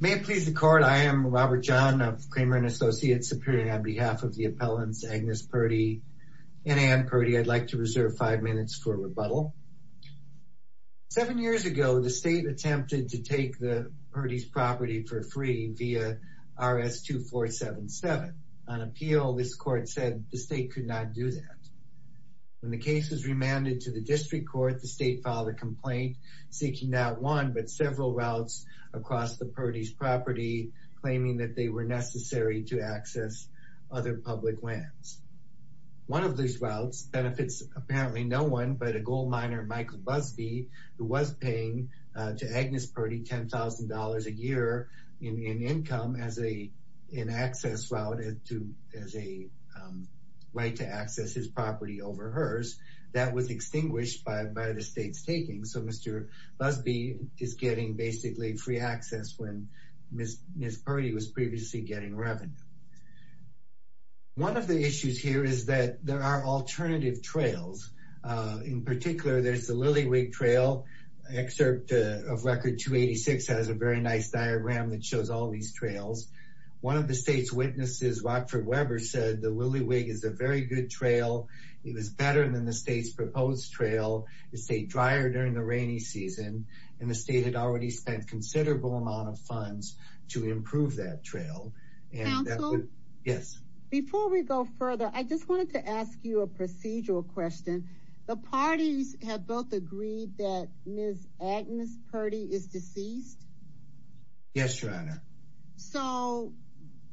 May it please the court, I am Robert John of Kramer & Associates Superior on behalf of the appellants Agnes Purdy and Anne Purdy. I'd like to reserve five minutes for rebuttal. Seven years ago, the state attempted to take the Purdy's property for free via RS-2477. On appeal, this court said the state could not do that. When the case was remanded to the district court, the state filed a complaint seeking not one, but several routes across the Purdy's property, claiming that they were necessary to access other public lands. One of these routes benefits apparently no one but a gold miner, Michael Busby, who was paying to Agnes Purdy $10,000 a year in income as an access route, as a right to access his property over hers. That was extinguished by the state's taking. So Mr. Busby is getting basically free access when Ms. Purdy was previously getting revenue. One of the issues here is that there are alternative trails. In particular, there's the Lillywig Trail. Excerpt of Record 286 has a very nice diagram that shows all these trails. One of the state's witnesses, Rockford Weber, said the Lillywig is a very good trail. It was better than the state's proposed trail. It stayed drier during the rainy season and the state had already spent considerable amount of funds to improve that trail. Yes. Before we go further, I just wanted to ask you a procedural question. The parties have both agreed that Ms. Agnes Purdy is deceased? Yes, Your Honor. So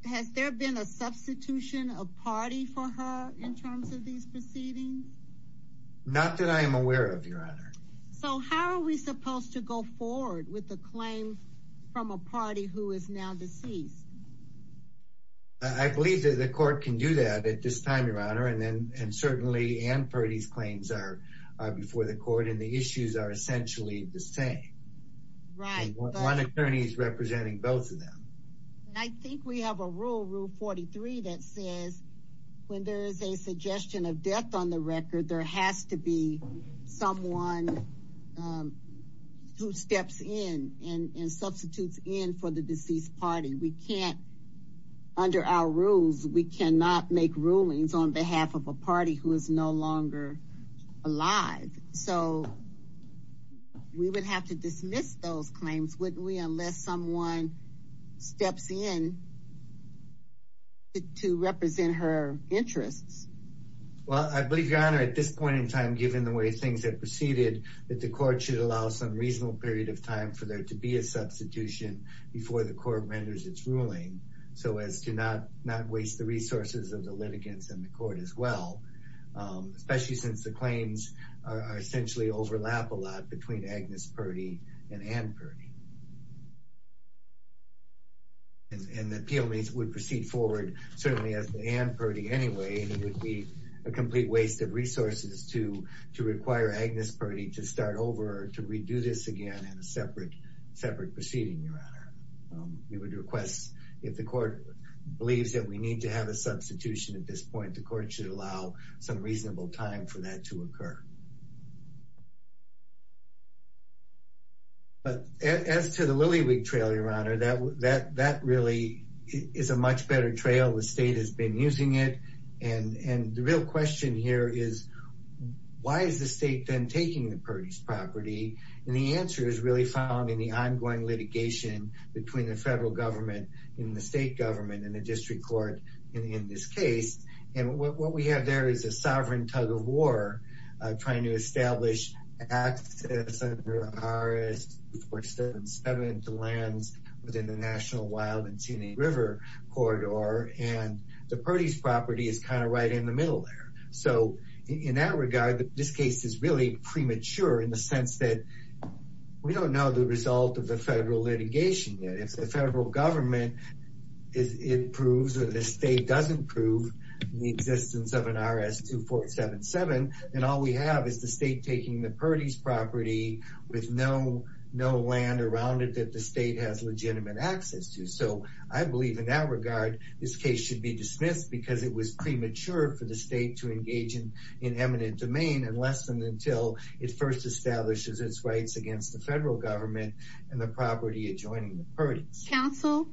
has there been a substitution of party for her in terms of these proceedings? Not that I am aware of, Your Honor. So how are we supposed to go forward with the claims from a party who is now deceased? I believe that the court can do that at this time, Your Honor, and then and certainly Agnes Purdy's claims are before the court and the issues are essentially the same. Right. One we have a rule, Rule 43, that says when there is a suggestion of death on the record, there has to be someone who steps in and substitutes in for the deceased party. We can't, under our rules, we cannot make rulings on behalf of a party who is no longer alive. So we would have to dismiss those claims, wouldn't we, unless someone steps in to represent her interests. Well, I believe, Your Honor, at this point in time, given the way things have proceeded, that the court should allow some reasonable period of time for there to be a substitution before the court renders its ruling so as to not waste the resources of the litigants in the court as well, especially since the claims are essentially overlap a lot between Agnes Purdy and Anne Purdy. And the PLMAs would proceed forward, certainly as Anne Purdy anyway, and it would be a complete waste of resources to to require Agnes Purdy to start over or to redo this again in a separate separate proceeding, Your Honor. We would request, if the court believes that we need to have a some reasonable time for that to occur. But as to the Lillywig trail, Your Honor, that really is a much better trail. The state has been using it, and the real question here is, why is the state then taking the Purdy's property? And the answer is really found in the ongoing litigation between the federal government and the state government and the district court in this case. And what we have there is a sovereign tug-of-war trying to establish access under RS-477 to lands within the National Wild and Scenic River Corridor, and the Purdy's property is kind of right in the middle there. So in that regard, this case is really premature in the sense that we don't know the result of the federal litigation yet. If the federal government proves or the state doesn't prove the existence of an RS-2477, then all we have is the state taking the Purdy's property with no land around it that the state has legitimate access to. So I believe in that regard, this case should be dismissed because it was premature for the state to engage in eminent domain and less than until it first establishes its rights against the federal government and the property adjoining the Purdy's. Counsel,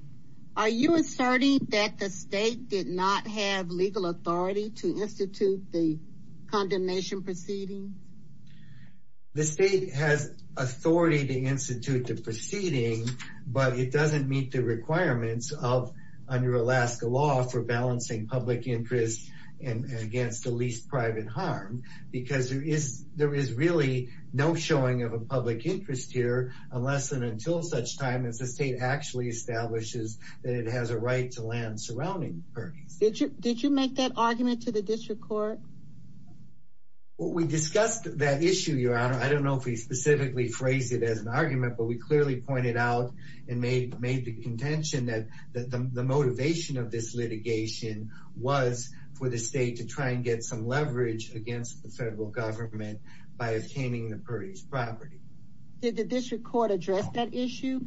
are you asserting that the state did not have legal authority to institute the condemnation proceedings? The state has authority to institute the proceedings, but it doesn't meet the requirements of under Alaska law for balancing public interest and against the least private harm because there is really no showing of a public interest here unless and until such time as the state actually establishes that it has a right to land surrounding Purdy's. Did you make that argument to the district court? Well, we discussed that issue, Your Honor. I don't know if we specifically phrased it as an argument, but we clearly pointed out and made the contention that the federal government by obtaining the Purdy's property. Did the district court address that issue?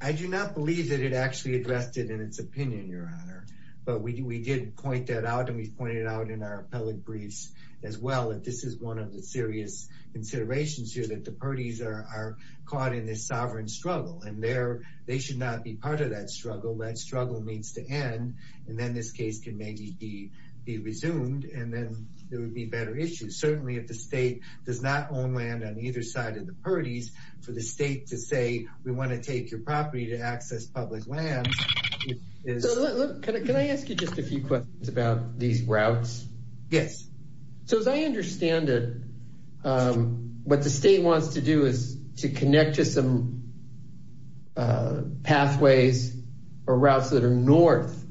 I do not believe that it actually addressed it in its opinion, Your Honor, but we did point that out and we've pointed out in our appellate briefs as well that this is one of the serious considerations here that the Purdy's are caught in this sovereign struggle and they should not be part of that struggle. That struggle needs to end and then this case can maybe be resumed and then there would be better issues. Certainly if the state does not own land on either side of the Purdy's for the state to say we want to take your property to access public land. Can I ask you just a few questions about these routes? Yes. So as I understand it, what the state wants to do is to connect to some pathways or routes that are north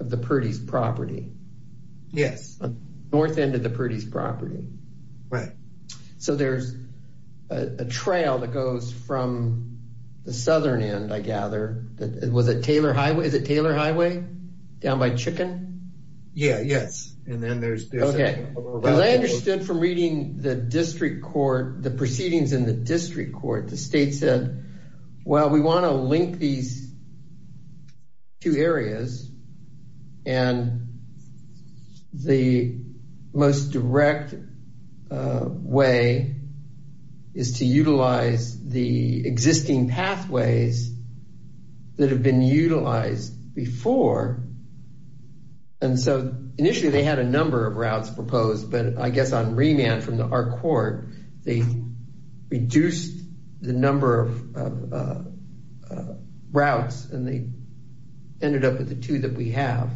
of the Purdy's property. Yes. North end of the Purdy's property. Right. So there's a trail that goes from the southern end, I gather. Was it Taylor Highway? Is it Taylor Highway down by Chicken? Yeah, yes. And then there's... Okay. As I understood from reading the district court, the proceedings in the district court, the state said, well, we want to link these two areas and the most direct way is to utilize the existing pathways that have been utilized before. And so initially they had a number of routes proposed, but I guess on remand from our uh, routes, and they ended up with the two that we have.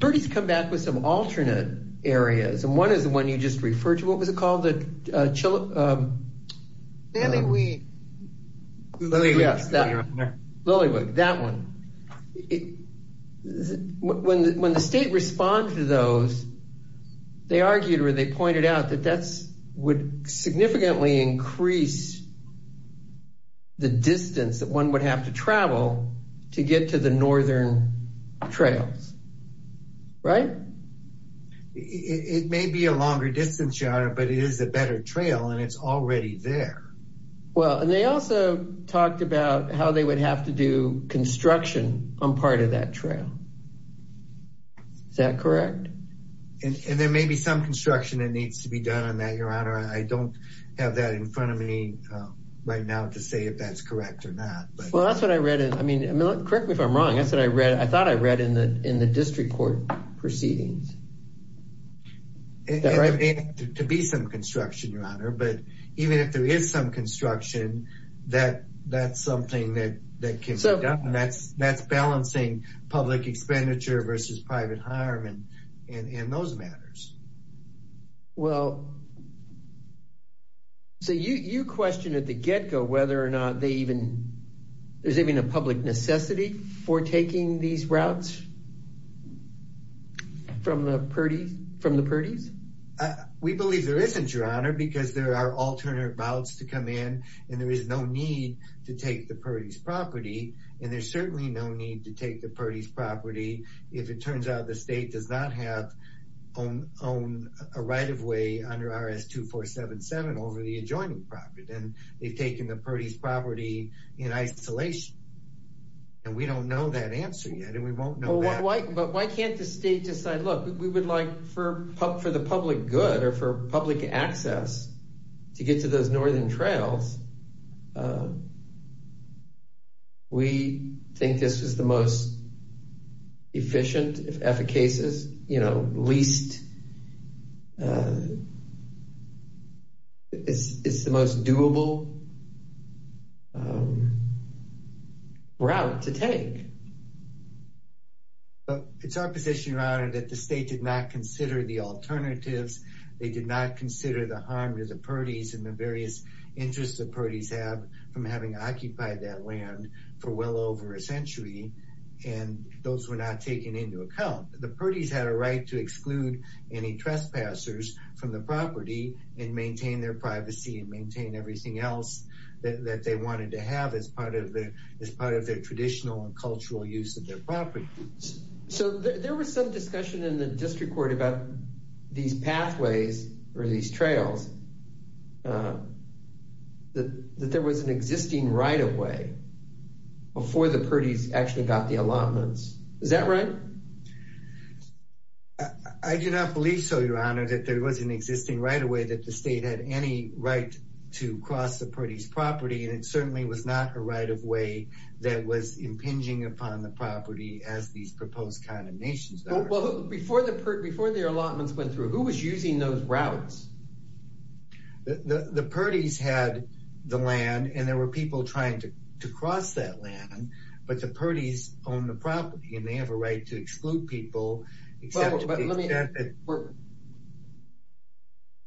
Purdy's come back with some alternate areas. And one is the one you just referred to. What was it called? The Chili... Lilliewood. Yes. Lilliewood. That one. When the state responded to those, they argued or they pointed out that that's would significantly increase the distance that one would have to travel to get to the northern trails. Right? It may be a longer distance, Your Honor, but it is a better trail and it's already there. Well, and they also talked about how they would have to do construction on part of that trail. Is that correct? And there may be some construction that needs to be done on that, I don't have that in front of me right now to say if that's correct or not. Well, that's what I read. I mean, correct me if I'm wrong. I said I read, I thought I read in the in the district court proceedings. There may be some construction, Your Honor, but even if there is some construction, that's something that can be done. That's balancing public expenditure versus private harm and those matters. Well, so you question at the get-go whether or not they even, there's even a public necessity for taking these routes from the Purdy's? We believe there isn't, Your Honor, because there are alternate routes to come in and there is no need to take the Purdy's property. If it turns out the state does not have a right-of-way under RS-2477 over the adjoining property, then they've taken the Purdy's property in isolation. And we don't know that answer yet, and we won't know that. But why can't the state decide, look, we would like for the public good or for public access to get to those northern trails. We think this is the most efficient, if ever cases, you know, least, it's the most doable route to take. Well, it's our position, Your Honor, that the state did not consider the alternatives. They did not consider the harm to the Purdy's and the various interests the Purdy's have from having occupied that land for well over a century, and those were not taken into account. The Purdy's had a right to exclude any trespassers from the property and maintain their privacy and maintain everything else that they wanted to have as part of their traditional and cultural use of their property. So there was some discussion in the district court about these pathways or these trails, that there was an existing right-of-way before the Purdy's actually got the allotments. Is that right? I do not believe so, Your Honor, that there was an existing right-of-way that the Purdy's had to cross the Purdy's property, and it certainly was not a right-of-way that was impinging upon the property as these proposed condemnations are. Well, before the allotments went through, who was using those routes? The Purdy's had the land and there were people trying to cross that land, but the Purdy's own the property and they have a right to exclude people.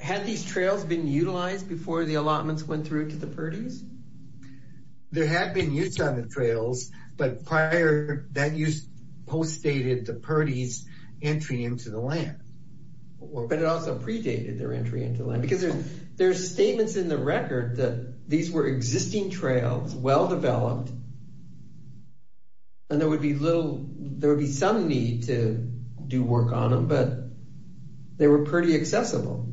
Had these trails been utilized before the allotments went through to the Purdy's? There had been use on the trails, but prior, that use post-dated the Purdy's entry into the land. But it also predated their entry into the land, because there's statements in the record that these were existing trails, well-developed, and there would be little, there would be some need to do work on them, but they were Purdy accessible.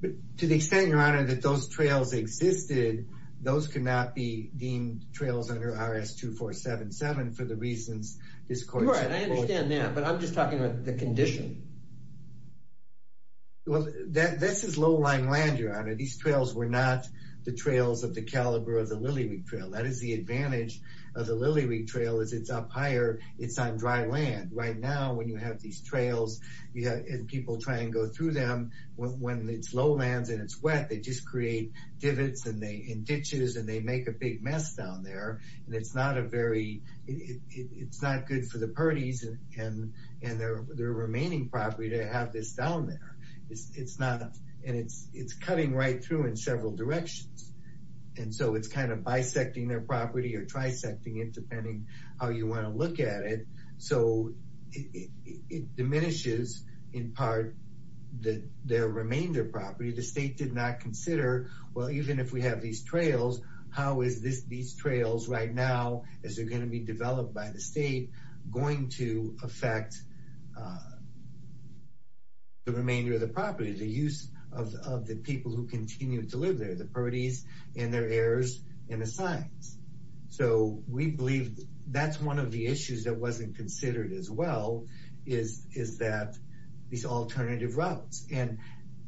But to the extent, Your Honor, that those trails existed, those could not be deemed trails under RS-2477 for the reasons this court said. Right, I understand that, but I'm just talking about the condition. Well, that, this is low-lying land, Your Honor. These trails were not the trails of the caliber of the Lily Reek Trail. That is the you have these trails, and people try and go through them. When it's low lands and it's wet, they just create divots and ditches and they make a big mess down there. And it's not a very, it's not good for the Purdy's and their remaining property to have this down there. It's not, and it's cutting right through in several directions. And so it's kind of bisecting their property or trisecting it, depending how you want to look at it. So it diminishes in part that their remainder property, the state did not consider, well, even if we have these trails, how is this, these trails right now, as they're going to be developed by the state, going to affect the remainder of the property, the use of the people who continue to live there, the Purdy's and their heirs and the signs. So we believe that's one of the issues that wasn't considered as well, is that these alternative routes. And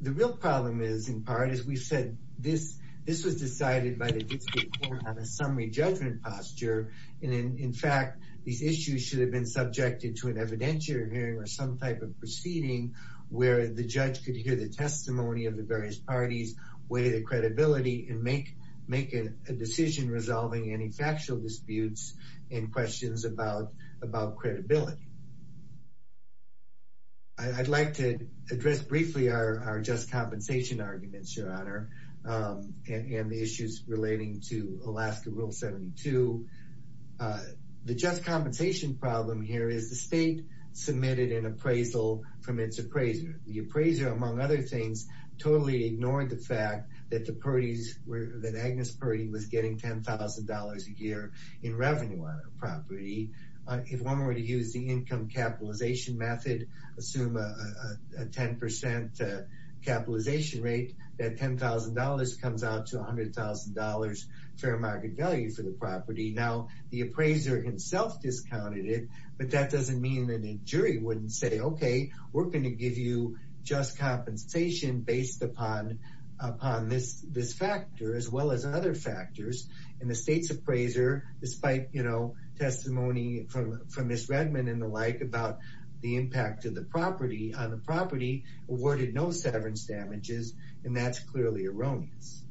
the real problem is in part, as we said, this was decided by the district court on a summary judgment posture. And in fact, these issues should have been subjected to an evidentiary hearing or some type of proceeding where the judge could hear the testimony of the various parties, weigh the credibility, and make a decision resolving any factual disputes and questions about credibility. I'd like to address briefly our just compensation arguments, Your Honor, and the issues relating to Alaska Rule 72. The just compensation problem here is the state submitted an appraisal from its appraiser. The appraiser, among other things, totally ignored the fact that the Purdy's, that Agnes Purdy was getting $10,000 a year in revenue on her property. If one were to use the income capitalization method, assume a 10% capitalization rate, that $10,000 comes out to $100,000 fair market value for the property. Now, the appraiser himself discounted it, but that doesn't mean that a jury wouldn't say, okay, we're going to give you just compensation based upon this factor as well as other factors. And the state's appraiser, despite testimony from Ms. Redmond and the like about the impact of the property on the property, awarded no severance damages, and that's clearly erroneous.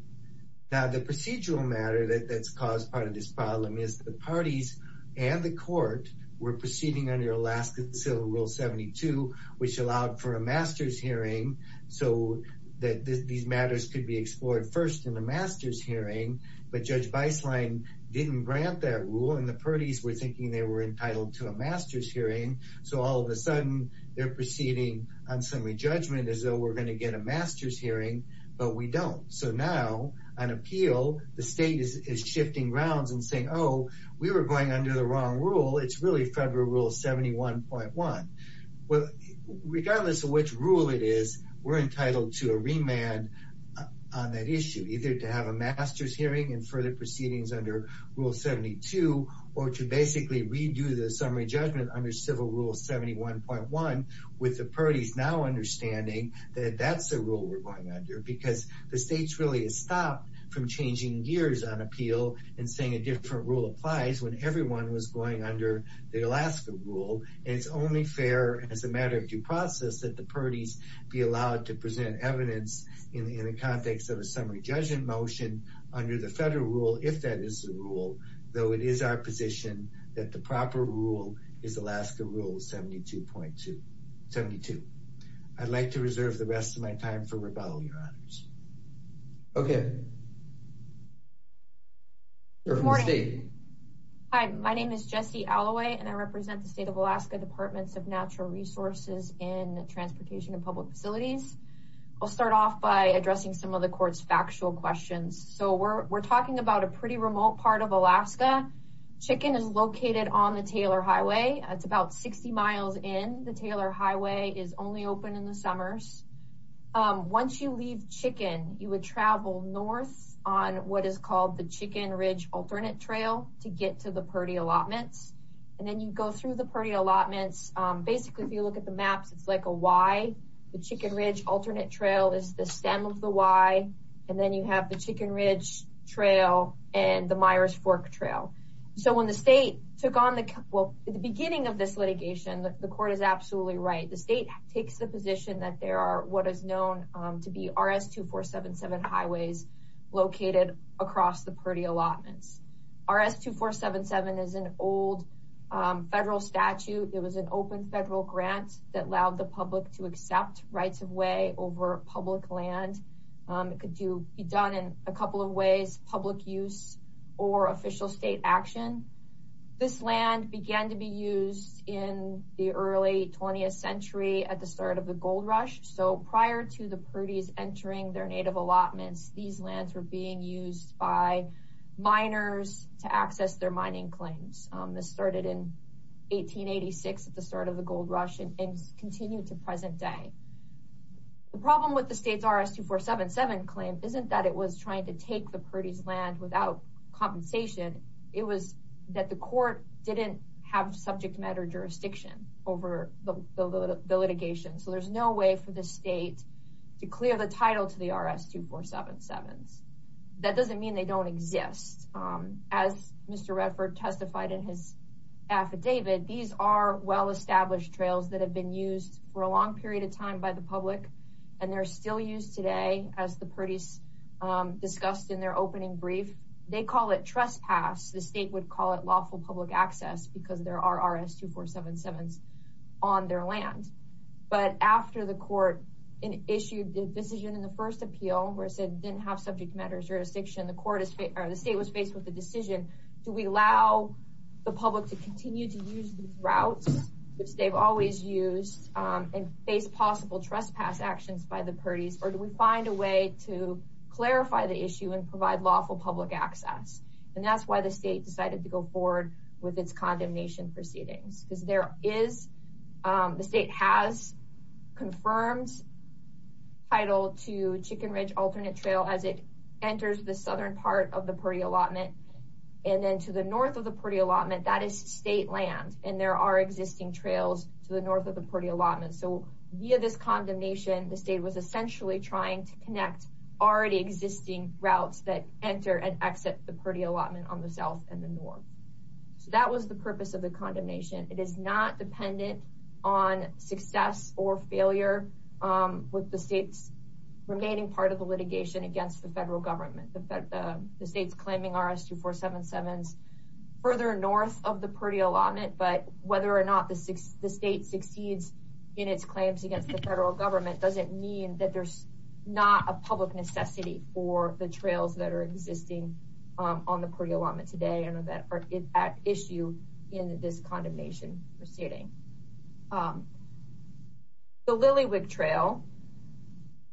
Now, the procedural matter that's caused part of this problem is the parties and the court were proceeding under Alaska Civil Rule 72, which allowed for a master's hearing, so that these matters could be explored first in the master's hearing. But Judge Beislein didn't grant that rule, and the Purdy's were thinking they were entitled to a master's hearing. So all of a sudden, they're proceeding on summary judgment as though we're going to get a master's hearing, but we don't. So now, on appeal, the state is shifting grounds and saying, oh, we were going under the wrong rule. It's really Federal Rule 71.1. Regardless of which rule it is, we're entitled to a remand on that issue, either to have a master's hearing and further proceedings under Rule 72, or to basically redo the summary judgment under Civil Rule 71.1, with the Purdy's now understanding that that's the rule we're going under, because the state's really stopped from changing gears on appeal and saying a different rule applies when everyone was going under the Alaska Rule, and it's only fair as a matter of due process that the Purdy's be allowed to present evidence in the context of a summary judgment motion under the Federal Rule, if that is the rule, though it is our position that the proper rule is Alaska Rule 72.2. I'd like to hear from the state. Hi, my name is Jessie Alloway, and I represent the State of Alaska Departments of Natural Resources in Transportation and Public Facilities. I'll start off by addressing some of the court's factual questions. So we're talking about a pretty remote part of Alaska. Chicken is located on the Taylor Highway. It's about 60 miles in. The Taylor Highway is only open in the summers. Once you leave Chicken, you would travel north on what is called the Chicken Ridge Alternate Trail to get to the Purdy Allotments, and then you go through the Purdy Allotments. Basically, if you look at the maps, it's like a Y. The Chicken Ridge Alternate Trail is the stem of the Y, and then you have the Chicken Ridge Trail and the Myers Fork Trail. So when the state took on the, well, at the beginning of this litigation, the court is positioned that there are what is known to be RS-2477 highways located across the Purdy Allotments. RS-2477 is an old federal statute. It was an open federal grant that allowed the public to accept rights of way over public land. It could be done in a couple of ways, public use or official state action. This land began to be used in the early 20th century at the start of the gold rush. So prior to the Purdy's entering their native allotments, these lands were being used by miners to access their mining claims. This started in 1886 at the start of the gold rush and continued to present day. The problem with the state's RS-2477 claim isn't that it was trying to take the Purdy's land without compensation. It was that the court didn't have subject matter jurisdiction over the litigation. So there's no way for the state to clear the title to the RS-2477s. That doesn't mean they don't exist. As Mr. Redford testified in his affidavit, these are well-established trails that have been used for a long period of time by the public, and they're still used today, as the Purdy's discussed in their opening brief. They call it trespass. The state would call it lawful public access because there are RS-2477s on their land. But after the court issued the decision in the first appeal where it said it didn't have subject matter jurisdiction, the state was faced with the decision, do we allow the public to continue to use these routes, which they've always used, and face possible trespass actions by the Purdy's, or do we find a way to clarify the issue and provide lawful public access? And that's why the state decided to go forward with its condemnation proceedings. Because the state has confirmed title to Chicken Ridge Alternate Trail as it enters the southern part of the Purdy allotment. That is state land, and there are existing trails to the north of the Purdy allotment. So via this condemnation, the state was essentially trying to connect already existing routes that enter and exit the Purdy allotment on the south and the north. So that was the purpose of the condemnation. It is not dependent on success or failure with the state's remaining part of the north of the Purdy allotment, but whether or not the state succeeds in its claims against the federal government doesn't mean that there's not a public necessity for the trails that are existing on the Purdy allotment today and that are at issue in this condemnation proceeding. The Lilywick Trail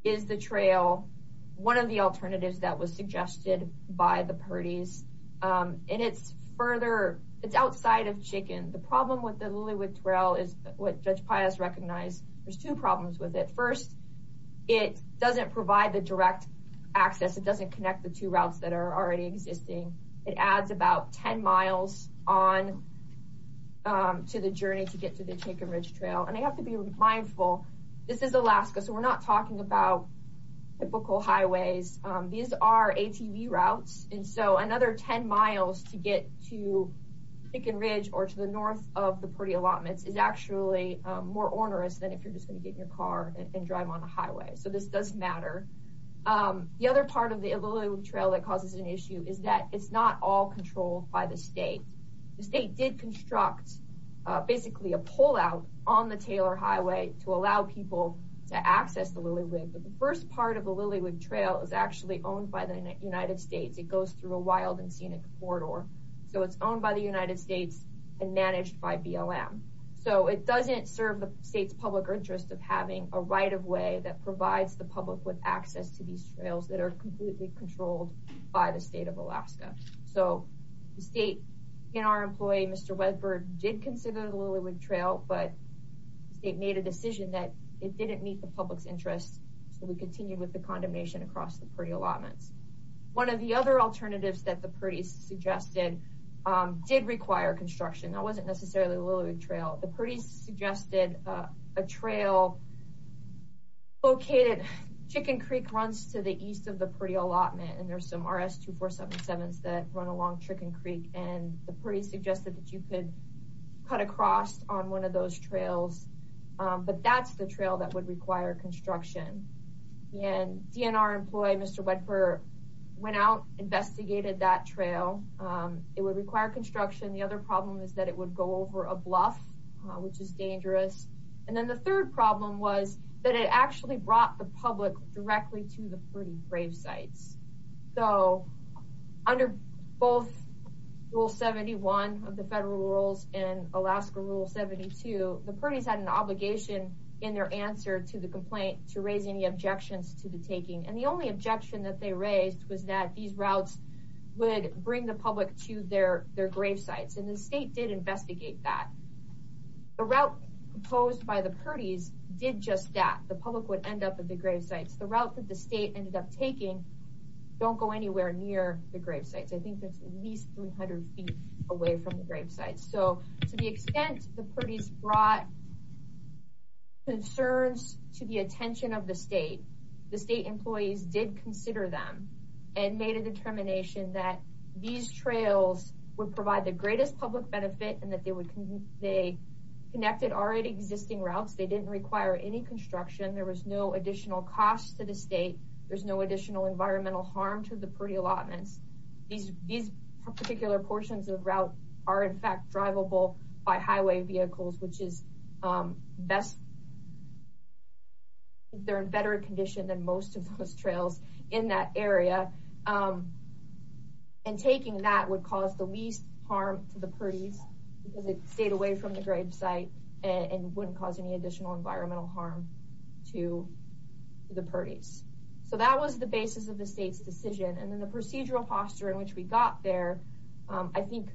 is the trail, one of the alternatives that was suggested by the Purdy's, and it's further, it's outside of Chicken. The problem with the Lilywick Trail is what Judge Pius recognized. There's two problems with it. First, it doesn't provide the direct access. It doesn't connect the two routes that are already existing. It adds about 10 miles on to the journey to get to the Chicken Ridge Trail. And I have to be mindful, this is Alaska, so we're not talking about typical highways. These are ATV routes, and so another 10 miles to get to Chicken Ridge or to the north of the Purdy allotments is actually more onerous than if you're just going to get in your car and drive on the highway. So this does matter. The other part of the Lilywick Trail that causes an issue is that it's not all controlled by the state. The state did construct basically a highway to allow people to access the Lilywick, but the first part of the Lilywick Trail is actually owned by the United States. It goes through a wild and scenic corridor, so it's owned by the United States and managed by BLM. So it doesn't serve the state's public interest of having a right-of-way that provides the public with access to these trails that are completely controlled by the state of Alaska. So the state and our employee, Mr. Wedberg, did consider the Lilywick Trail, but the state made a decision that it didn't meet the public's interest, so we continued with the condemnation across the Purdy allotments. One of the other alternatives that the Purdy's suggested did require construction. That wasn't necessarily the Lilywick Trail. The Purdy's suggested a trail located, Chicken Creek runs to the east of the Purdy allotment, and there's some RS-2477s that run along Chicken Creek, and the Purdy suggested that you could cut across on one of those trails, but that's the trail that would require construction. And DNR employee, Mr. Wedberg, went out, investigated that trail. It would require construction. The other problem is that it would go over a bluff, which is dangerous. And then the third problem was that it actually brought the public directly to the Purdy grave sites. So under both Rule 71 of the federal rules and Alaska Rule 72, the Purdy's had an obligation in their answer to the complaint to raise any objections to the taking, and the only objection that they raised was that these routes would bring the public to their grave sites, and the state did investigate that. The route proposed by the Purdy's did just that. The public would end up at the grave sites. I think that's at least 300 feet away from the grave sites. So to the extent the Purdy's brought concerns to the attention of the state, the state employees did consider them and made a determination that these trails would provide the greatest public benefit and that they would, they connected already existing routes. They didn't require any construction. There was no environmental harm to the Purdy allotments. These particular portions of the route are in fact drivable by highway vehicles, which is best, they're in better condition than most of those trails in that area. And taking that would cause the least harm to the Purdy's because it stayed away from the grave site and wouldn't cause any additional environmental harm to the Purdy's. So that was the basis of the state's decision. And then the procedural posture in which we got there I think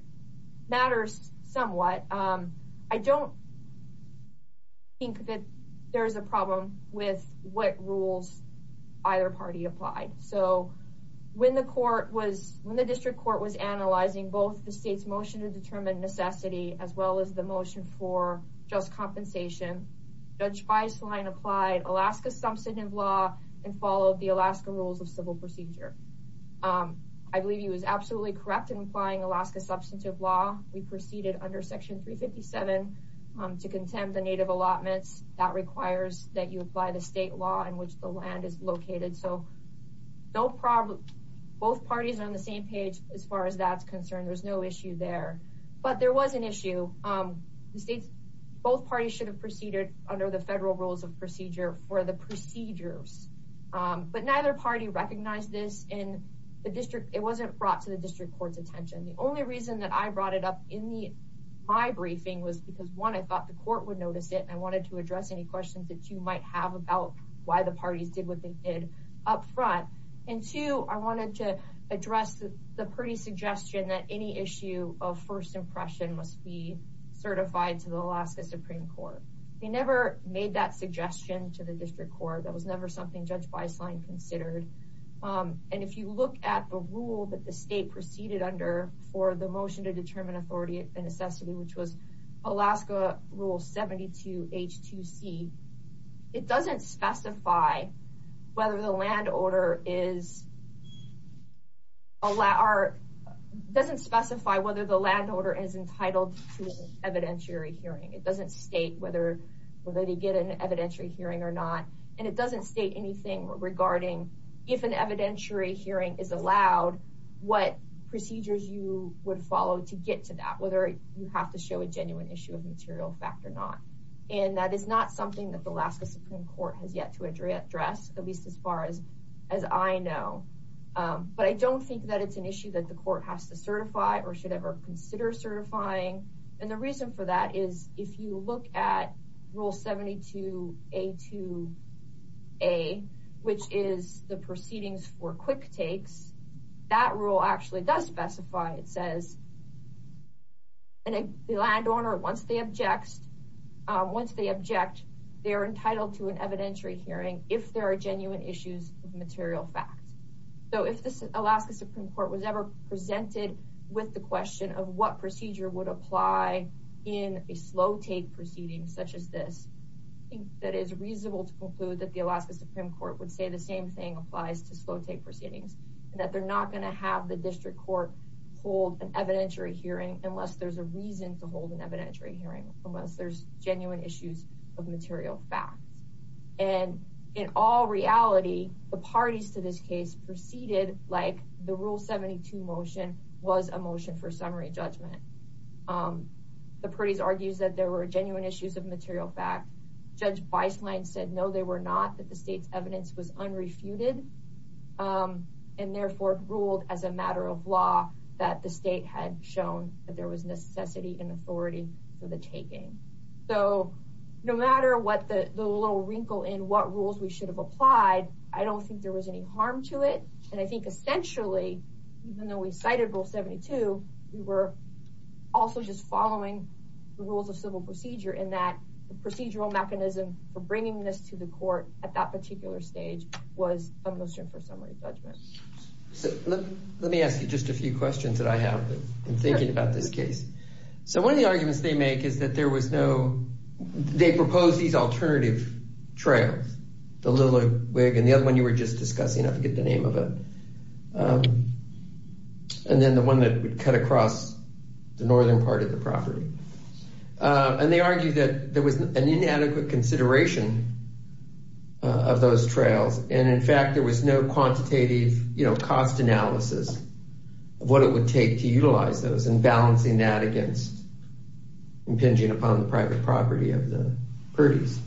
matters somewhat. I don't think that there's a problem with what rules either party applied. So when the court was, when the district court was analyzing both the state's motion to determine necessity as well as the motion for just compensation, Judge Beislein applied Alaska's substantive law and followed the Alaska rules of civil procedure. I believe he was absolutely correct in applying Alaska's substantive law. We proceeded under section 357 to contend the native allotments that requires that you apply the state law in which the land is located. So no problem, both parties are on the same page as far as that's concerned. There's no issue there, but there was an issue. The state's, both parties should have proceeded under the federal rules of procedures. But neither party recognized this in the district. It wasn't brought to the district court's attention. The only reason that I brought it up in my briefing was because one, I thought the court would notice it and I wanted to address any questions that you might have about why the parties did what they did up front. And two, I wanted to address the Purdy's suggestion that any issue of first impression must be certified to the Alaska Supreme Court. They never made that was never something Judge Beislein considered. And if you look at the rule that the state proceeded under for the motion to determine authority and necessity, which was Alaska rule 72H2C, it doesn't specify whether the land order is, doesn't specify whether the land order is entitled to an evidentiary hearing. It doesn't state whether they get an evidentiary hearing or not. And it doesn't state anything regarding if an evidentiary hearing is allowed, what procedures you would follow to get to that, whether you have to show a genuine issue of material fact or not. And that is not something that the Alaska Supreme Court has yet to address, at least as far as, as I know. But I don't think that it's an issue that the court has to certify or should ever consider certifying. And the reason for that is if you look at rule 72A2A, which is the proceedings for quick takes, that rule actually does specify, it says, and the land owner, once they object, once they object, they are entitled to an evidentiary hearing if there are genuine issues of material facts. So if the Alaska Supreme Court was ever presented with the question of what procedure would apply in a slow take proceeding such as this, I think that it is reasonable to conclude that the Alaska Supreme Court would say the same thing applies to slow take proceedings, that they're not going to have the district court hold an evidentiary hearing unless there's a reason to hold an evidentiary hearing, unless there's genuine issues of material facts. And in all reality, the parties to this case proceeded like the rule 72 motion was a motion for summary judgment. The parties argues that there were genuine issues of material fact. Judge Beislein said, no, they were not, that the state's evidence was unrefuted, and therefore ruled as a matter of law that the state had shown that there was necessity and authority for the taking. So no matter what the little wrinkle in what rules we should have applied, I don't think there was any harm to it. And I think essentially, even though we cited rule 72, we were also just following the rules of civil procedure in that the procedural mechanism for bringing this to the court at that particular stage was a motion for summary judgment. So let me ask you just a few questions that I have in thinking about this case. So one of the arguments they make is that there was no, they proposed these alternative trails, the little wig and the other one you were just discussing, I forget the name of it, and then the one that would cut across the northern part of the property. And they argued that there was an inadequate consideration of those trails. And in fact, there was no quantitative, you know, cost analysis of what it would take to utilize those and balancing that against impinging upon the private property of the Purdy's.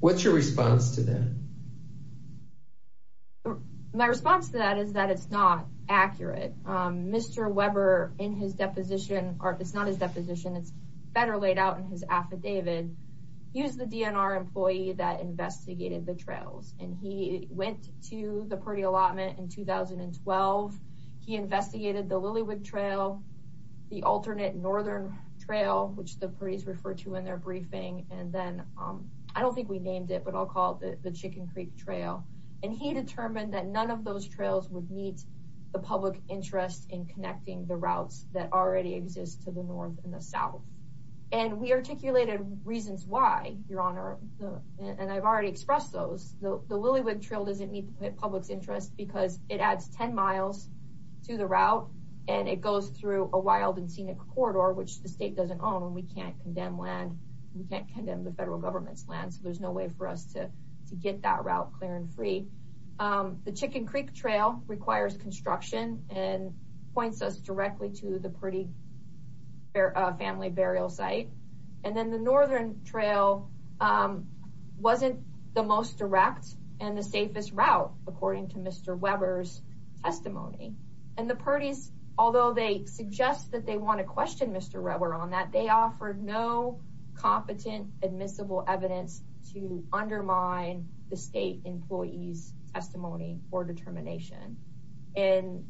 What's your response to that? My response to that is that it's not accurate. Mr. Weber, in his deposition, or it's not his affidavit, he was the DNR employee that investigated the trails. And he went to the Purdy allotment in 2012. He investigated the Lillywood trail, the alternate northern trail, which the Purdy's refer to in their briefing. And then I don't think we named it, but I'll call it the Chicken Creek trail. And he determined that none of those trails would meet the public interest in connecting the routes that already exist to the north and the south. And we articulated reasons why, Your Honor. And I've already expressed those. The Lillywood trail doesn't meet the public's interest because it adds 10 miles to the route. And it goes through a wild and scenic corridor, which the state doesn't own. We can't condemn land. We can't condemn the federal government's land. So there's no way for us to get that route clear and free. The Chicken Creek trail requires construction and points us directly to the Purdy family burial site. And then the northern trail wasn't the most direct and the safest route, according to Mr. Weber's testimony. And the Purdy's, although they suggest that they want to question Mr. Weber on that, they offered no competent admissible evidence to undermine the state employee's testimony or determination. And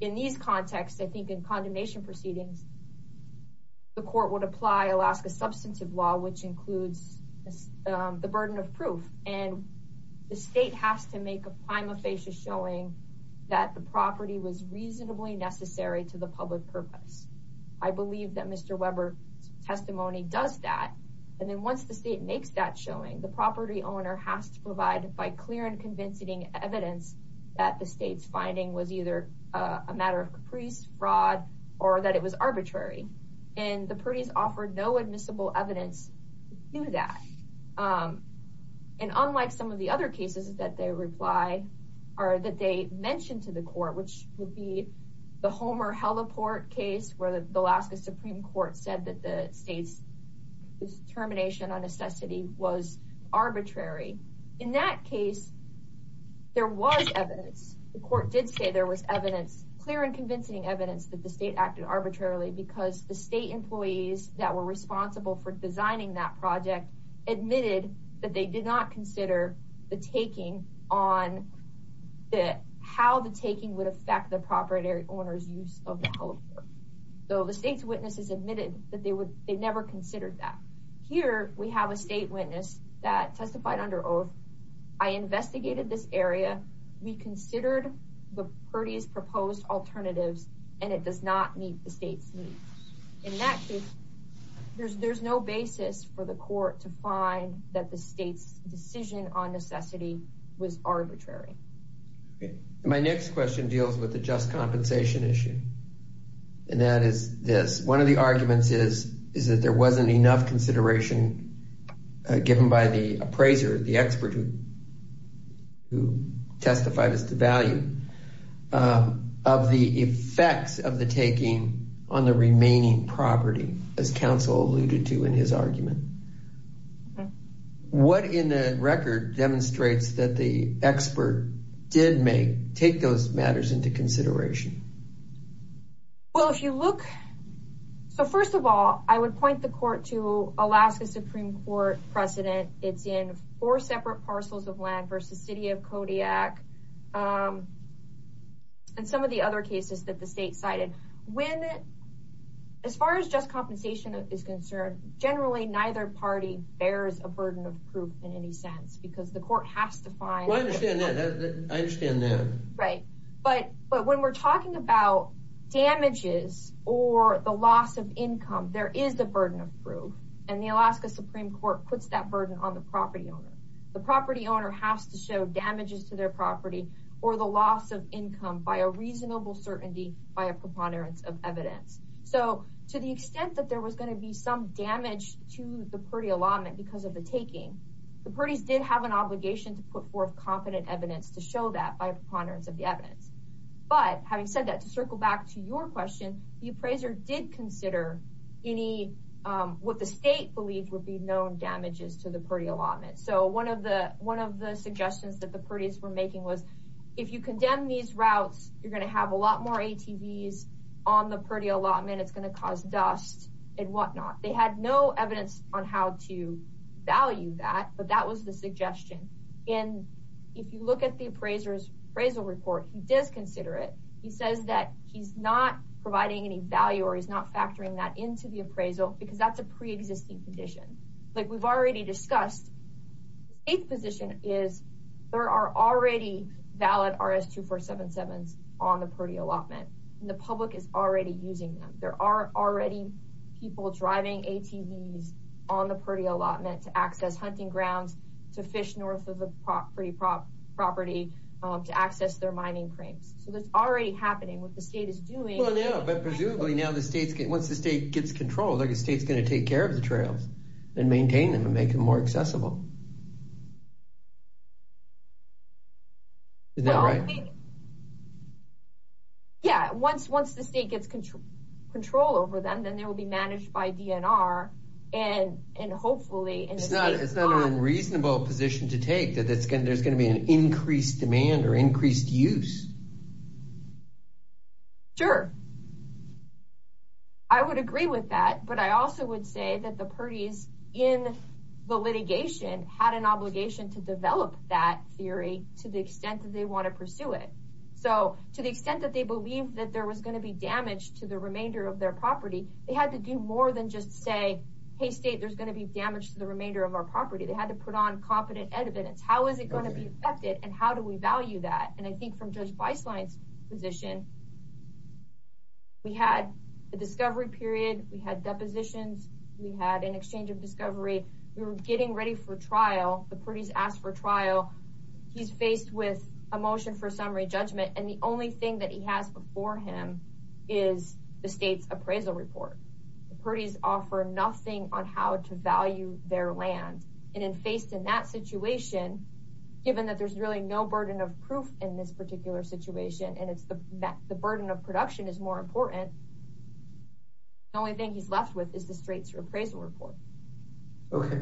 in these contexts, I think in condemnation proceedings, the court would apply Alaska substantive law, which includes the burden of proof. And the state has to make a prima facie showing that the property was reasonably necessary to the public purpose. I believe that Mr. Weber's testimony does that. And then once the state makes that showing, the property owner has to provide by clear and convincing evidence that the state's a matter of caprice, fraud, or that it was arbitrary. And the Purdy's offered no admissible evidence to do that. And unlike some of the other cases that they reply, or that they mentioned to the court, which would be the Homer Heliport case, where the Alaska Supreme Court said that the state's determination on necessity was arbitrary. In that case, there was evidence. The court did say there was evidence, clear and convincing evidence, that the state acted arbitrarily because the state employees that were responsible for designing that project admitted that they did not consider the taking on that, how the taking would affect the property owner's use of the Heliport. So the state's witnesses admitted that they would, they never considered that. Here, we have a state witness that testified under oath. I investigated this area. We considered the Purdy's proposed alternatives, and it does not meet the state's needs. In that case, there's no basis for the court to find that the state's decision on necessity was arbitrary. My next question deals with the just compensation issue. And that is this. One of the arguments is, is that there wasn't enough consideration given by the appraiser, the expert who testified as to value, of the effects of the taking on the remaining property, as counsel alluded to in his argument. What in the record demonstrates that the expert did make take those matters into consideration? Well, if you look, so first of all, I would point the court to Alaska Supreme Court precedent. It's in four separate parcels of land versus city of Kodiak. And some of the other cases that the state cited. When, as far as just compensation is concerned, generally, neither party bears a burden of proof in any sense, because the court has to find... I understand that. I understand that. Right. But, but when we're talking about damages, or the loss of income, there is the burden of proof. And the Alaska Supreme Court has to show damages to their property, or the loss of income by a reasonable certainty, by a preponderance of evidence. So to the extent that there was going to be some damage to the party allotment, because of the taking, the parties did have an obligation to put forth confident evidence to show that by a preponderance of the evidence. But having said that, to circle back to your question, the appraiser did consider any, what the state believed would be known damages to the party allotment. So one of the suggestions that the parties were making was, if you condemn these routes, you're going to have a lot more ATVs on the party allotment, it's going to cause dust, and whatnot. They had no evidence on how to value that, but that was the suggestion. And if you look at the appraiser's appraisal report, he does consider it. He says that he's not providing any value, or he's not factoring that into the appraisal, because that's a pre-existing condition. Like we've already discussed, the state's position is there are already valid RS-2477s on the party allotment, and the public is already using them. There are already people driving ATVs on the party allotment to access hunting grounds, to fish north of the property, to access their mining crates. So that's already happening. What the state is doing... Well yeah, but presumably now the state's getting, once the state gets control, the state's going to take care of the trails, and maintain them, and make them more accessible. Is that right? Yeah, once the state gets control over them, then they will be managed by DNR, and hopefully... It's not an unreasonable position to take, that there's going to be an increased demand, or increased use. Sure. I would agree with that, but I also would say that the parties in the litigation had an obligation to develop that theory to the extent that they want to pursue it. So to the extent that they believed that there was going to be damage to the remainder of their property, they had to do more than just say, hey state, there's going to be damage to the remainder of our property. They had to put on competent evidence. How is it going to be affected, and how do we value that? And I position, we had the discovery period. We had depositions. We had an exchange of discovery. We were getting ready for trial. The parties asked for trial. He's faced with a motion for summary judgment, and the only thing that he has before him is the state's appraisal report. The parties offer nothing on how to value their land, and then faced in that situation, given that there's really no burden of proof in this particular situation, and the burden of production is more important. The only thing he's left with is the state's appraisal report. Okay.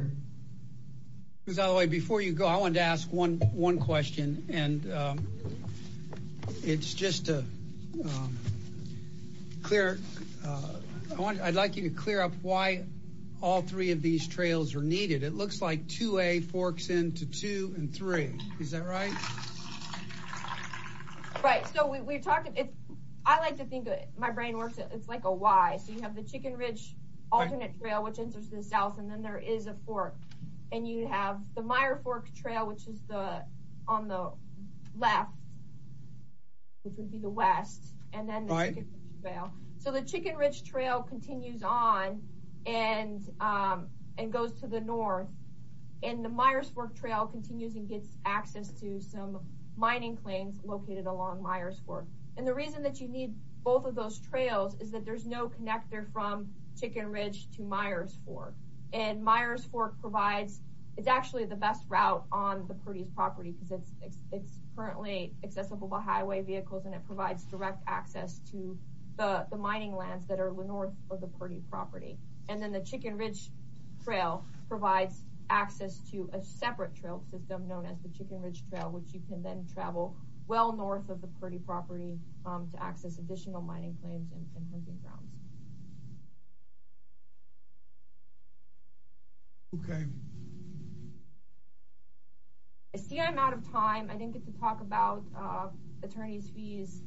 Rosario, before you go, I wanted to ask one question, and it's just to clear. I'd like you to clear up why all three of these trails are needed. It looks like 2A forks into 2 and 3. Is that right? Right. So we're talking, I like to think, my brain works, it's like a Y. So you have the Chicken Ridge alternate trail, which enters the south, and then there is a fork, and you have the Meyer fork trail, which is on the left, which would be the west, and then the Chicken Ridge trail. So the Chicken Ridge trail continues on and goes to the north, and the Meyer's fork trail continues and gets access to some mining claims located along Meyer's fork, and the reason that you need both of those trails is that there's no connector from Chicken Ridge to Meyer's fork, and Meyer's fork provides, it's actually the best route on the Purdy's property because it's currently accessible by highway vehicles, and it provides direct access to the mining lands that are north of the Purdy property, and then the Chicken Ridge trail provides access to a separate trail system known as the Chicken Ridge trail, which you can then travel well north of the Purdy property to access additional mining claims and hunting grounds. Okay. I see I'm out of time. I didn't get to talk about attorney's fees,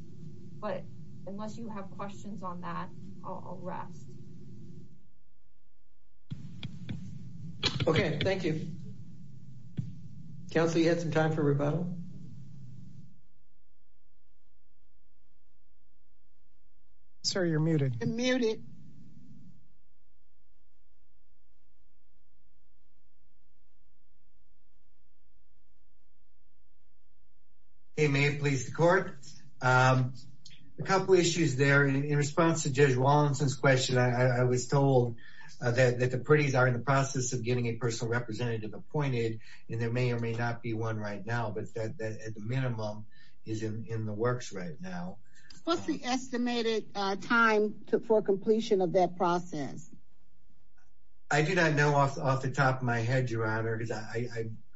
but unless you have questions on that, I'll rest. Okay, thank you. Council, you had some time for rebuttal? Sir, you're muted. I'm muted. Okay, may it please the court. A couple issues there. In response to Judge Wallinson's question, I was told that the Purdy's are in the process of getting a personal representative appointed, and there may or may not be one right now, but that at the minimum is in the works right now. What's the estimated time for completion of that process? I do not know off the top of my head, Your Honor, because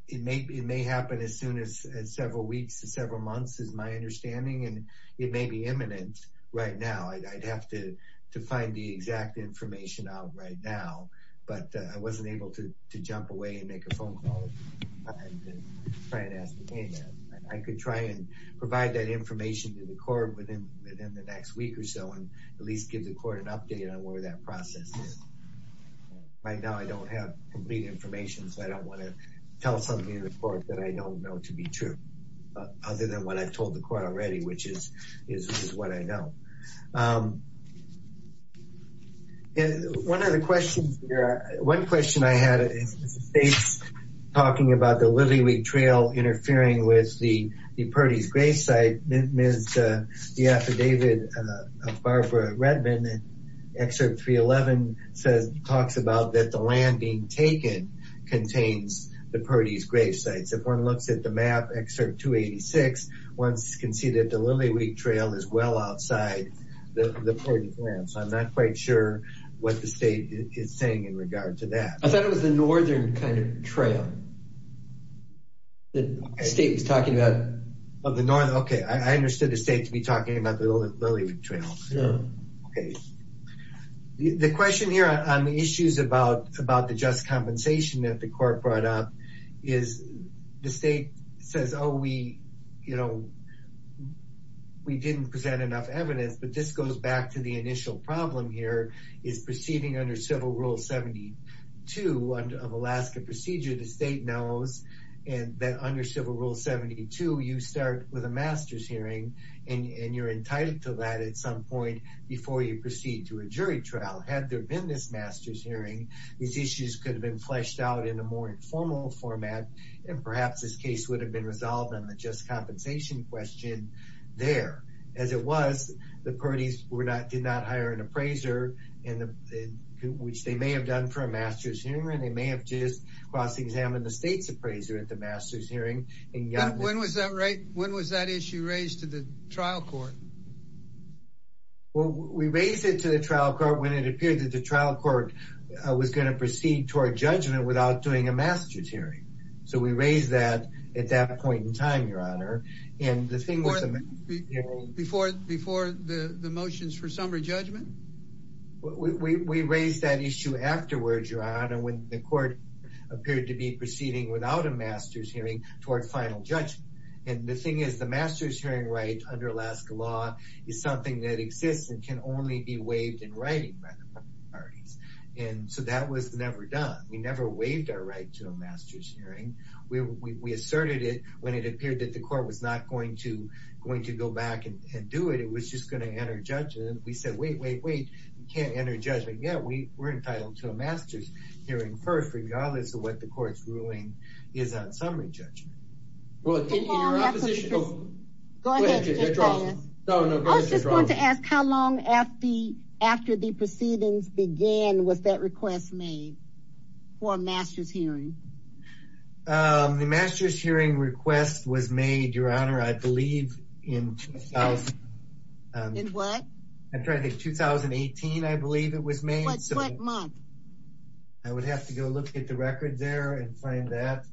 it may happen as soon as several weeks to several months is my understanding, and it may be imminent right now. I'd have to find the exact information out right now, but I wasn't able to jump away and make a phone call. I could try and get information to the court within the next week or so and at least give the court an update on where that process is. Right now, I don't have complete information, so I don't want to tell something to the court that I don't know to be true, other than what I've told the court already, which is what I know. And one of the questions here, one question I had is the state's talking about the Lily Week Trail interfering with the Purdy's grave site. The affidavit of Barbara Redmond, Excerpt 311, talks about that the land being taken contains the Purdy's grave sites. If one looks at the map, Excerpt 286, one can see that the Lily Week Trail is well outside the Purdy's land, so I'm not quite sure what the state is saying in regard to that. I thought it was the northern kind of trail that the state was talking about. Okay, I understood the state to be talking about the Lily Week Trail. The question here on the issues about the just compensation that the court brought up is the state says, oh, we didn't present enough evidence, but this goes back to the initial problem here is proceeding under Civil Rule 72 of Alaska Procedure. The state knows that under Civil Rule 72, you start with a master's hearing, and you're entitled to that at some point before you proceed to a jury trial. Had there been this master's hearing, these issues could have been fleshed out in a more informal format, and perhaps this case would have been resolved on the just compensation question there. As it was, the Purdy's did not hire an appraiser, which they may have done for a master's hearing. They may have just cross-examined the state's appraiser at the master's hearing. When was that issue raised to the trial court? Well, we raised it to the trial court when it appeared that the trial court was going to proceed toward judgment without doing a master's hearing, so we raised that at that point in time, and the thing was... Before the motions for summary judgment? We raised that issue afterwards, Your Honor, when the court appeared to be proceeding without a master's hearing toward final judgment, and the thing is the master's hearing right under Alaska law is something that exists and can only be waived in writing by the parties, and so that was never done. We never waived our right to a master's hearing. We asserted it when it appeared that the court was not going to go back and do it. It was just going to enter judgment. We said, wait, wait, wait. You can't enter judgment yet. We were entitled to a master's hearing first, regardless of what the court's ruling is on summary judgment. Well, in your opposition... Go ahead, just tell us. No, no, go ahead. I was just going to ask, how long after the proceedings began was that request made for a master's hearing? The master's hearing request was made, Your Honor, I believe in... In what? I'm trying to think. 2018, I believe it was made. What month? I would have to go look at the record there and find that.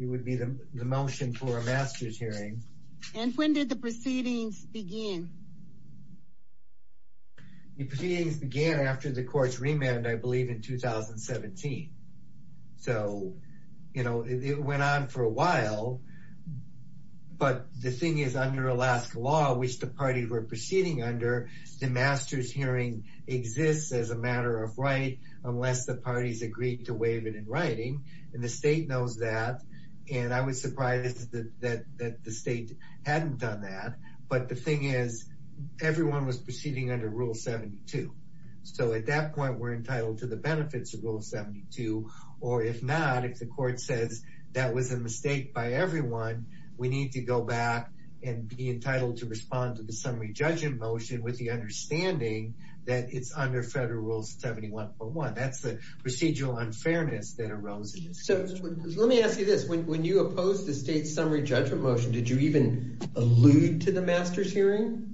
It would be the motion for a master's hearing. And when did the proceedings begin? The proceedings began after the court's remand, I believe in 2017. So, you know, it went on for a while. But the thing is, under Alaska law, which the parties were proceeding under, the master's hearing exists as a matter of right, unless the parties agreed to waive it in writing. And the state knows that. And I was surprised that the state hadn't done that. But the thing is, everyone was proceeding under Rule 72. So at that point, we're entitled to the benefits of Rule 72. Or if not, if the court says that was a mistake by everyone, we need to go back and be entitled to respond to the summary judgment motion with the understanding that it's under Federal Rule 71.1. That's the procedural unfairness that arose. So let me ask you this. When you opposed the state's summary judgment motion, did you even allude to the master's hearing?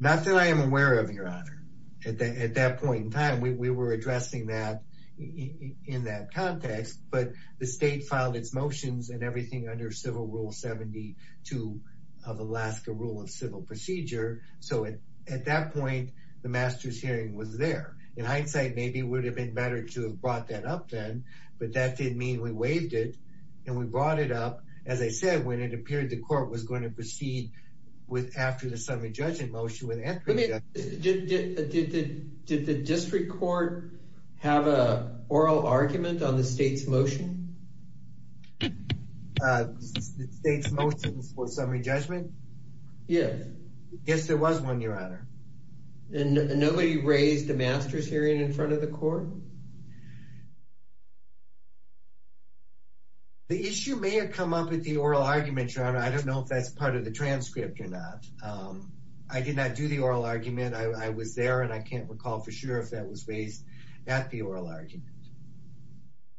Not that I am aware of, Your Honor. At that point in time, we were addressing that in that context. But the state filed its motions and everything under Civil Rule 72 of Alaska Rule of Civil Procedure. So at that point, the master's hearing was there. In hindsight, maybe it would have been better to have brought that up then. But that didn't mean we waived it. And we brought it up, as I said, when it appeared the court was going to proceed after the summary judgment motion. Did the district court have an oral argument on the state's motion? The state's motion for summary judgment? Yes. Yes, there was one, Your Honor. And nobody raised a master's hearing in front of the court? No. The issue may have come up with the oral argument, Your Honor. I don't know if that's part of the transcript or not. I did not do the oral argument. I was there, and I can't recall for sure if that was raised at the oral argument.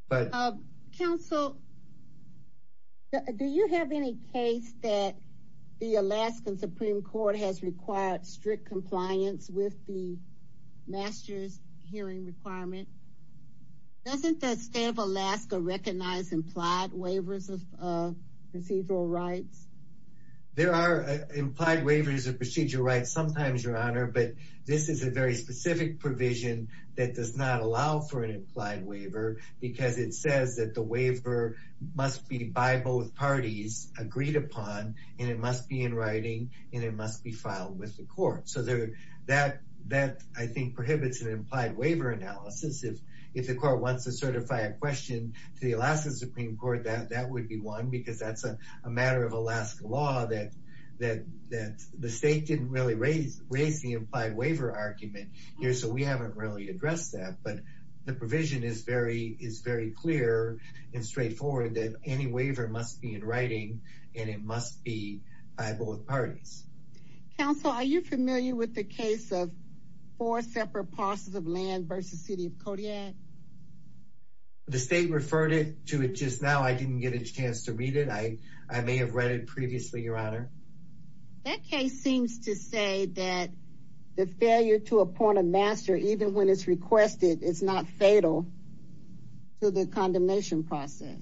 But... Counsel, do you have any case that the Alaskan Supreme Court has required strict compliance with the master's hearing requirement? Doesn't the state of Alaska recognize implied waivers of procedural rights? There are implied waivers of procedural rights sometimes, Your Honor. But this is a very specific provision that does not allow for an implied waiver, because it says that the waiver must be by both parties agreed upon, and it must be in writing, and it must be filed with the court. So that, I think, prohibits an implied waiver analysis. If the court wants to certify a question to the Alaska Supreme Court, that would be one, because that's a matter of Alaska law that the state didn't really raise the implied waiver argument here, so we haven't really addressed that. But the provision is very clear and straightforward that any waiver must be in writing, and it must be by both parties. Counsel, are you familiar with the case of four separate parcels of land versus City of Kodiak? The state referred it to it just now. I didn't get a chance to read it. I may have read it previously, Your Honor. That case seems to say that the failure to appoint a master, even when it's requested, is not fatal to the condemnation process.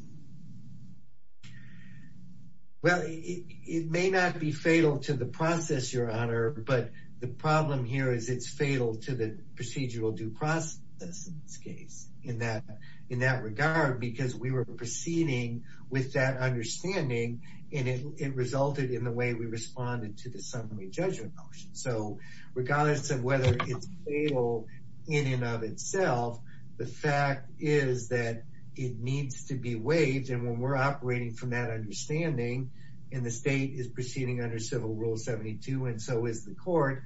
Well, it may not be fatal to the process, Your Honor, but the problem here is it's fatal to the procedural due process, in this case, in that regard, because we were proceeding with that understanding, and it resulted in the way we responded to the summary judgment motion. So regardless of whether it's fatal in and of itself, the fact is that it needs to be waived, and when we're operating from that understanding, and the state is proceeding under Civil Rule 72, and so is the court,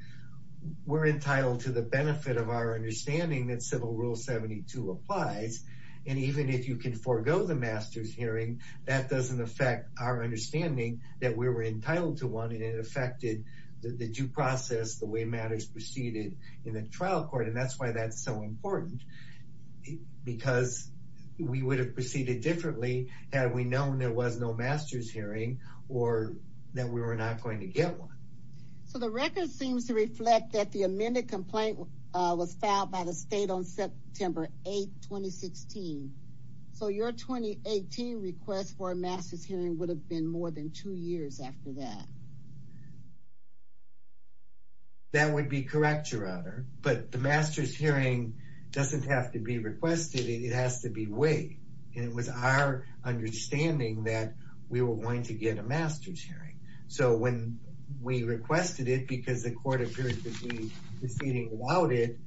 we're entitled to the benefit of our understanding that Civil Rule 72 applies. And even if you can forego the master's hearing, that doesn't affect our understanding that we were entitled to one, and it affected the due process, the way matters proceeded in the trial court, and that's why that's so important, because we would have proceeded differently had we known there was no master's hearing, or that we were not going to get one. So the record seems to reflect that the amended complaint was filed by the state on September 8, 2016. So your 2018 request for a master's hearing would have been more than two years after that. That would be correct, Your Honor, but the master's hearing doesn't have to be requested, it has to be waived, and it was our understanding that we were going to get a master's hearing. So when we requested it, because the court appeared to be proceeding without it,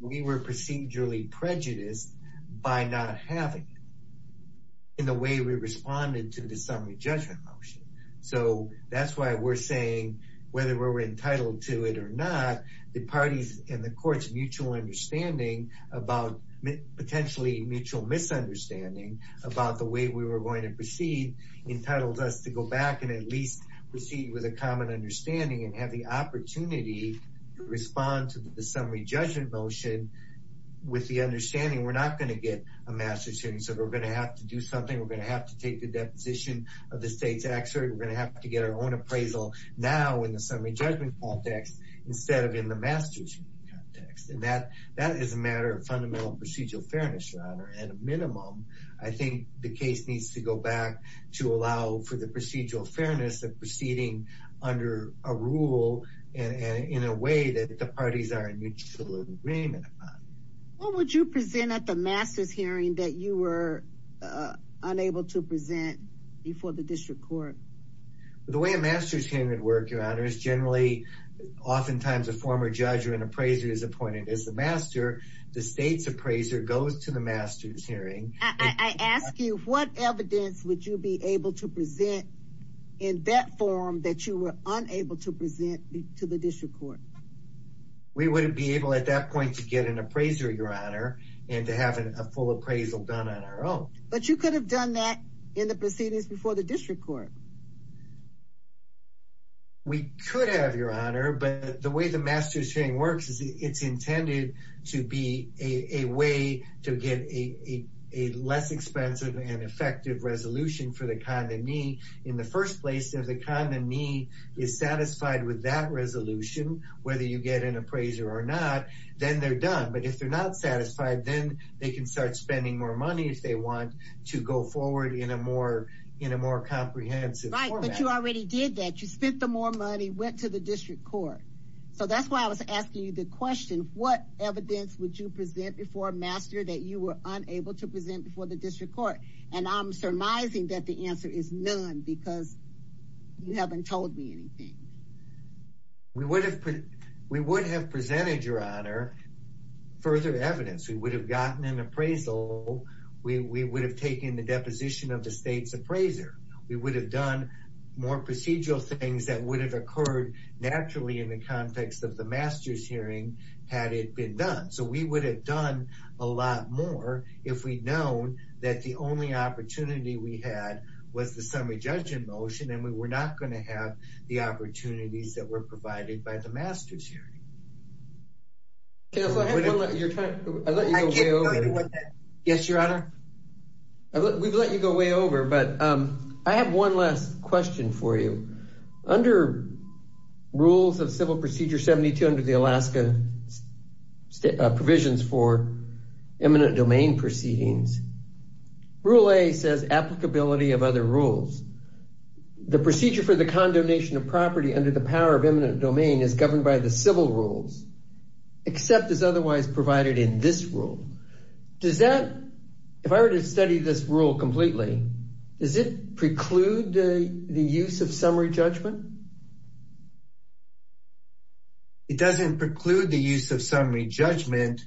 we were procedurally prejudiced by not having it in the way we responded to the summary judgment motion. So that's why we're saying, whether we were entitled to it or not, the parties and the courts' mutual understanding about, potentially mutual misunderstanding, about the way we were going to proceed, entitled us to go back and at least proceed with a common understanding and have the opportunity to respond to the summary judgment motion with the understanding we're not going to get a master's hearing, so we're going to have to do something, we're going to have to get our own appraisal now in the summary judgment context, instead of in the master's hearing context. And that is a matter of fundamental procedural fairness, Your Honor, at a minimum, I think the case needs to go back to allow for the procedural fairness of proceeding under a rule and in a way that the parties are in mutual agreement. What would you present at the master's hearing that you were unable to present before the district court? The way a master's hearing would work, Your Honor, is generally, oftentimes a former judge or an appraiser is appointed as the master, the state's appraiser goes to the master's hearing. I ask you, what evidence would you be able to present in that forum that you were unable to present to the district court? We wouldn't be but you could have done that in the proceedings before the district court. We could have, Your Honor, but the way the master's hearing works is it's intended to be a way to get a less expensive and effective resolution for the condignee. In the first place, if the condignee is satisfied with that resolution, whether you get an appraiser or not, then they're done. But if they're not satisfied, then they can start spending more if they want to go forward in a more comprehensive format. Right, but you already did that. You spent the more money, went to the district court. So that's why I was asking you the question, what evidence would you present before master that you were unable to present before the district court? And I'm surmising that the answer is none because you haven't told me anything. We would have presented, Your Honor, further evidence. We would have gotten an appraisal we would have taken the deposition of the state's appraiser. We would have done more procedural things that would have occurred naturally in the context of the master's hearing had it been done. So we would have done a lot more if we'd known that the only opportunity we had was the summary judgment motion and we were not going to have the opportunities that were We've let you go way over, but I have one last question for you. Under rules of Civil Procedure 72 under the Alaska provisions for eminent domain proceedings, Rule A says applicability of other rules. The procedure for the condonation of property under the power of eminent domain is governed by the civil rules, except as otherwise provided in this rule. Does that, if I were to study this rule completely, does it preclude the use of summary judgment? It doesn't preclude the use of summary judgment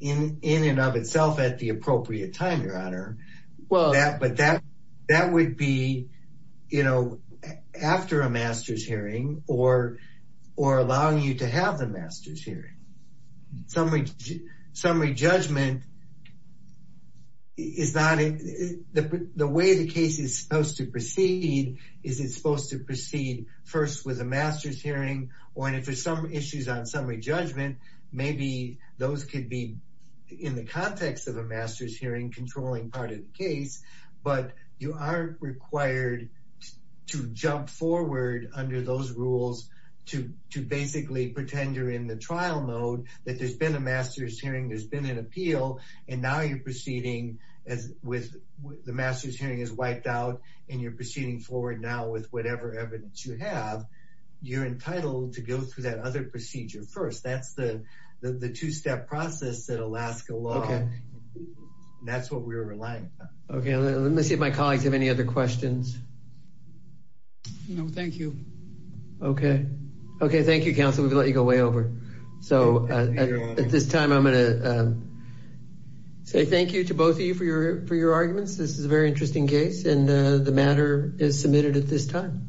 in and of itself at the appropriate time, but that would be, you know, after a master's hearing or allowing you to have the master's hearing. Summary judgment, the way the case is supposed to proceed is it's supposed to proceed first with a master's hearing or if there's some issues on summary judgment, maybe those could be in the context of a master's hearing controlling part of the case, but you aren't required to jump forward under those rules to basically pretend you're in the trial mode, that there's been a master's hearing, there's been an appeal, and now you're proceeding as with the master's hearing is wiped out and you're proceeding forward now with whatever evidence you have, you're entitled to go through that other procedure first. That's the two-step process that Alaska law, that's what we're relying upon. Okay, let me see if my colleagues have any other questions. No, thank you. Okay. Okay, thank you, counsel. We've let you go way over. So at this time I'm going to say thank you to both of you for your arguments. This is a very interesting case and the matter is submitted at this time.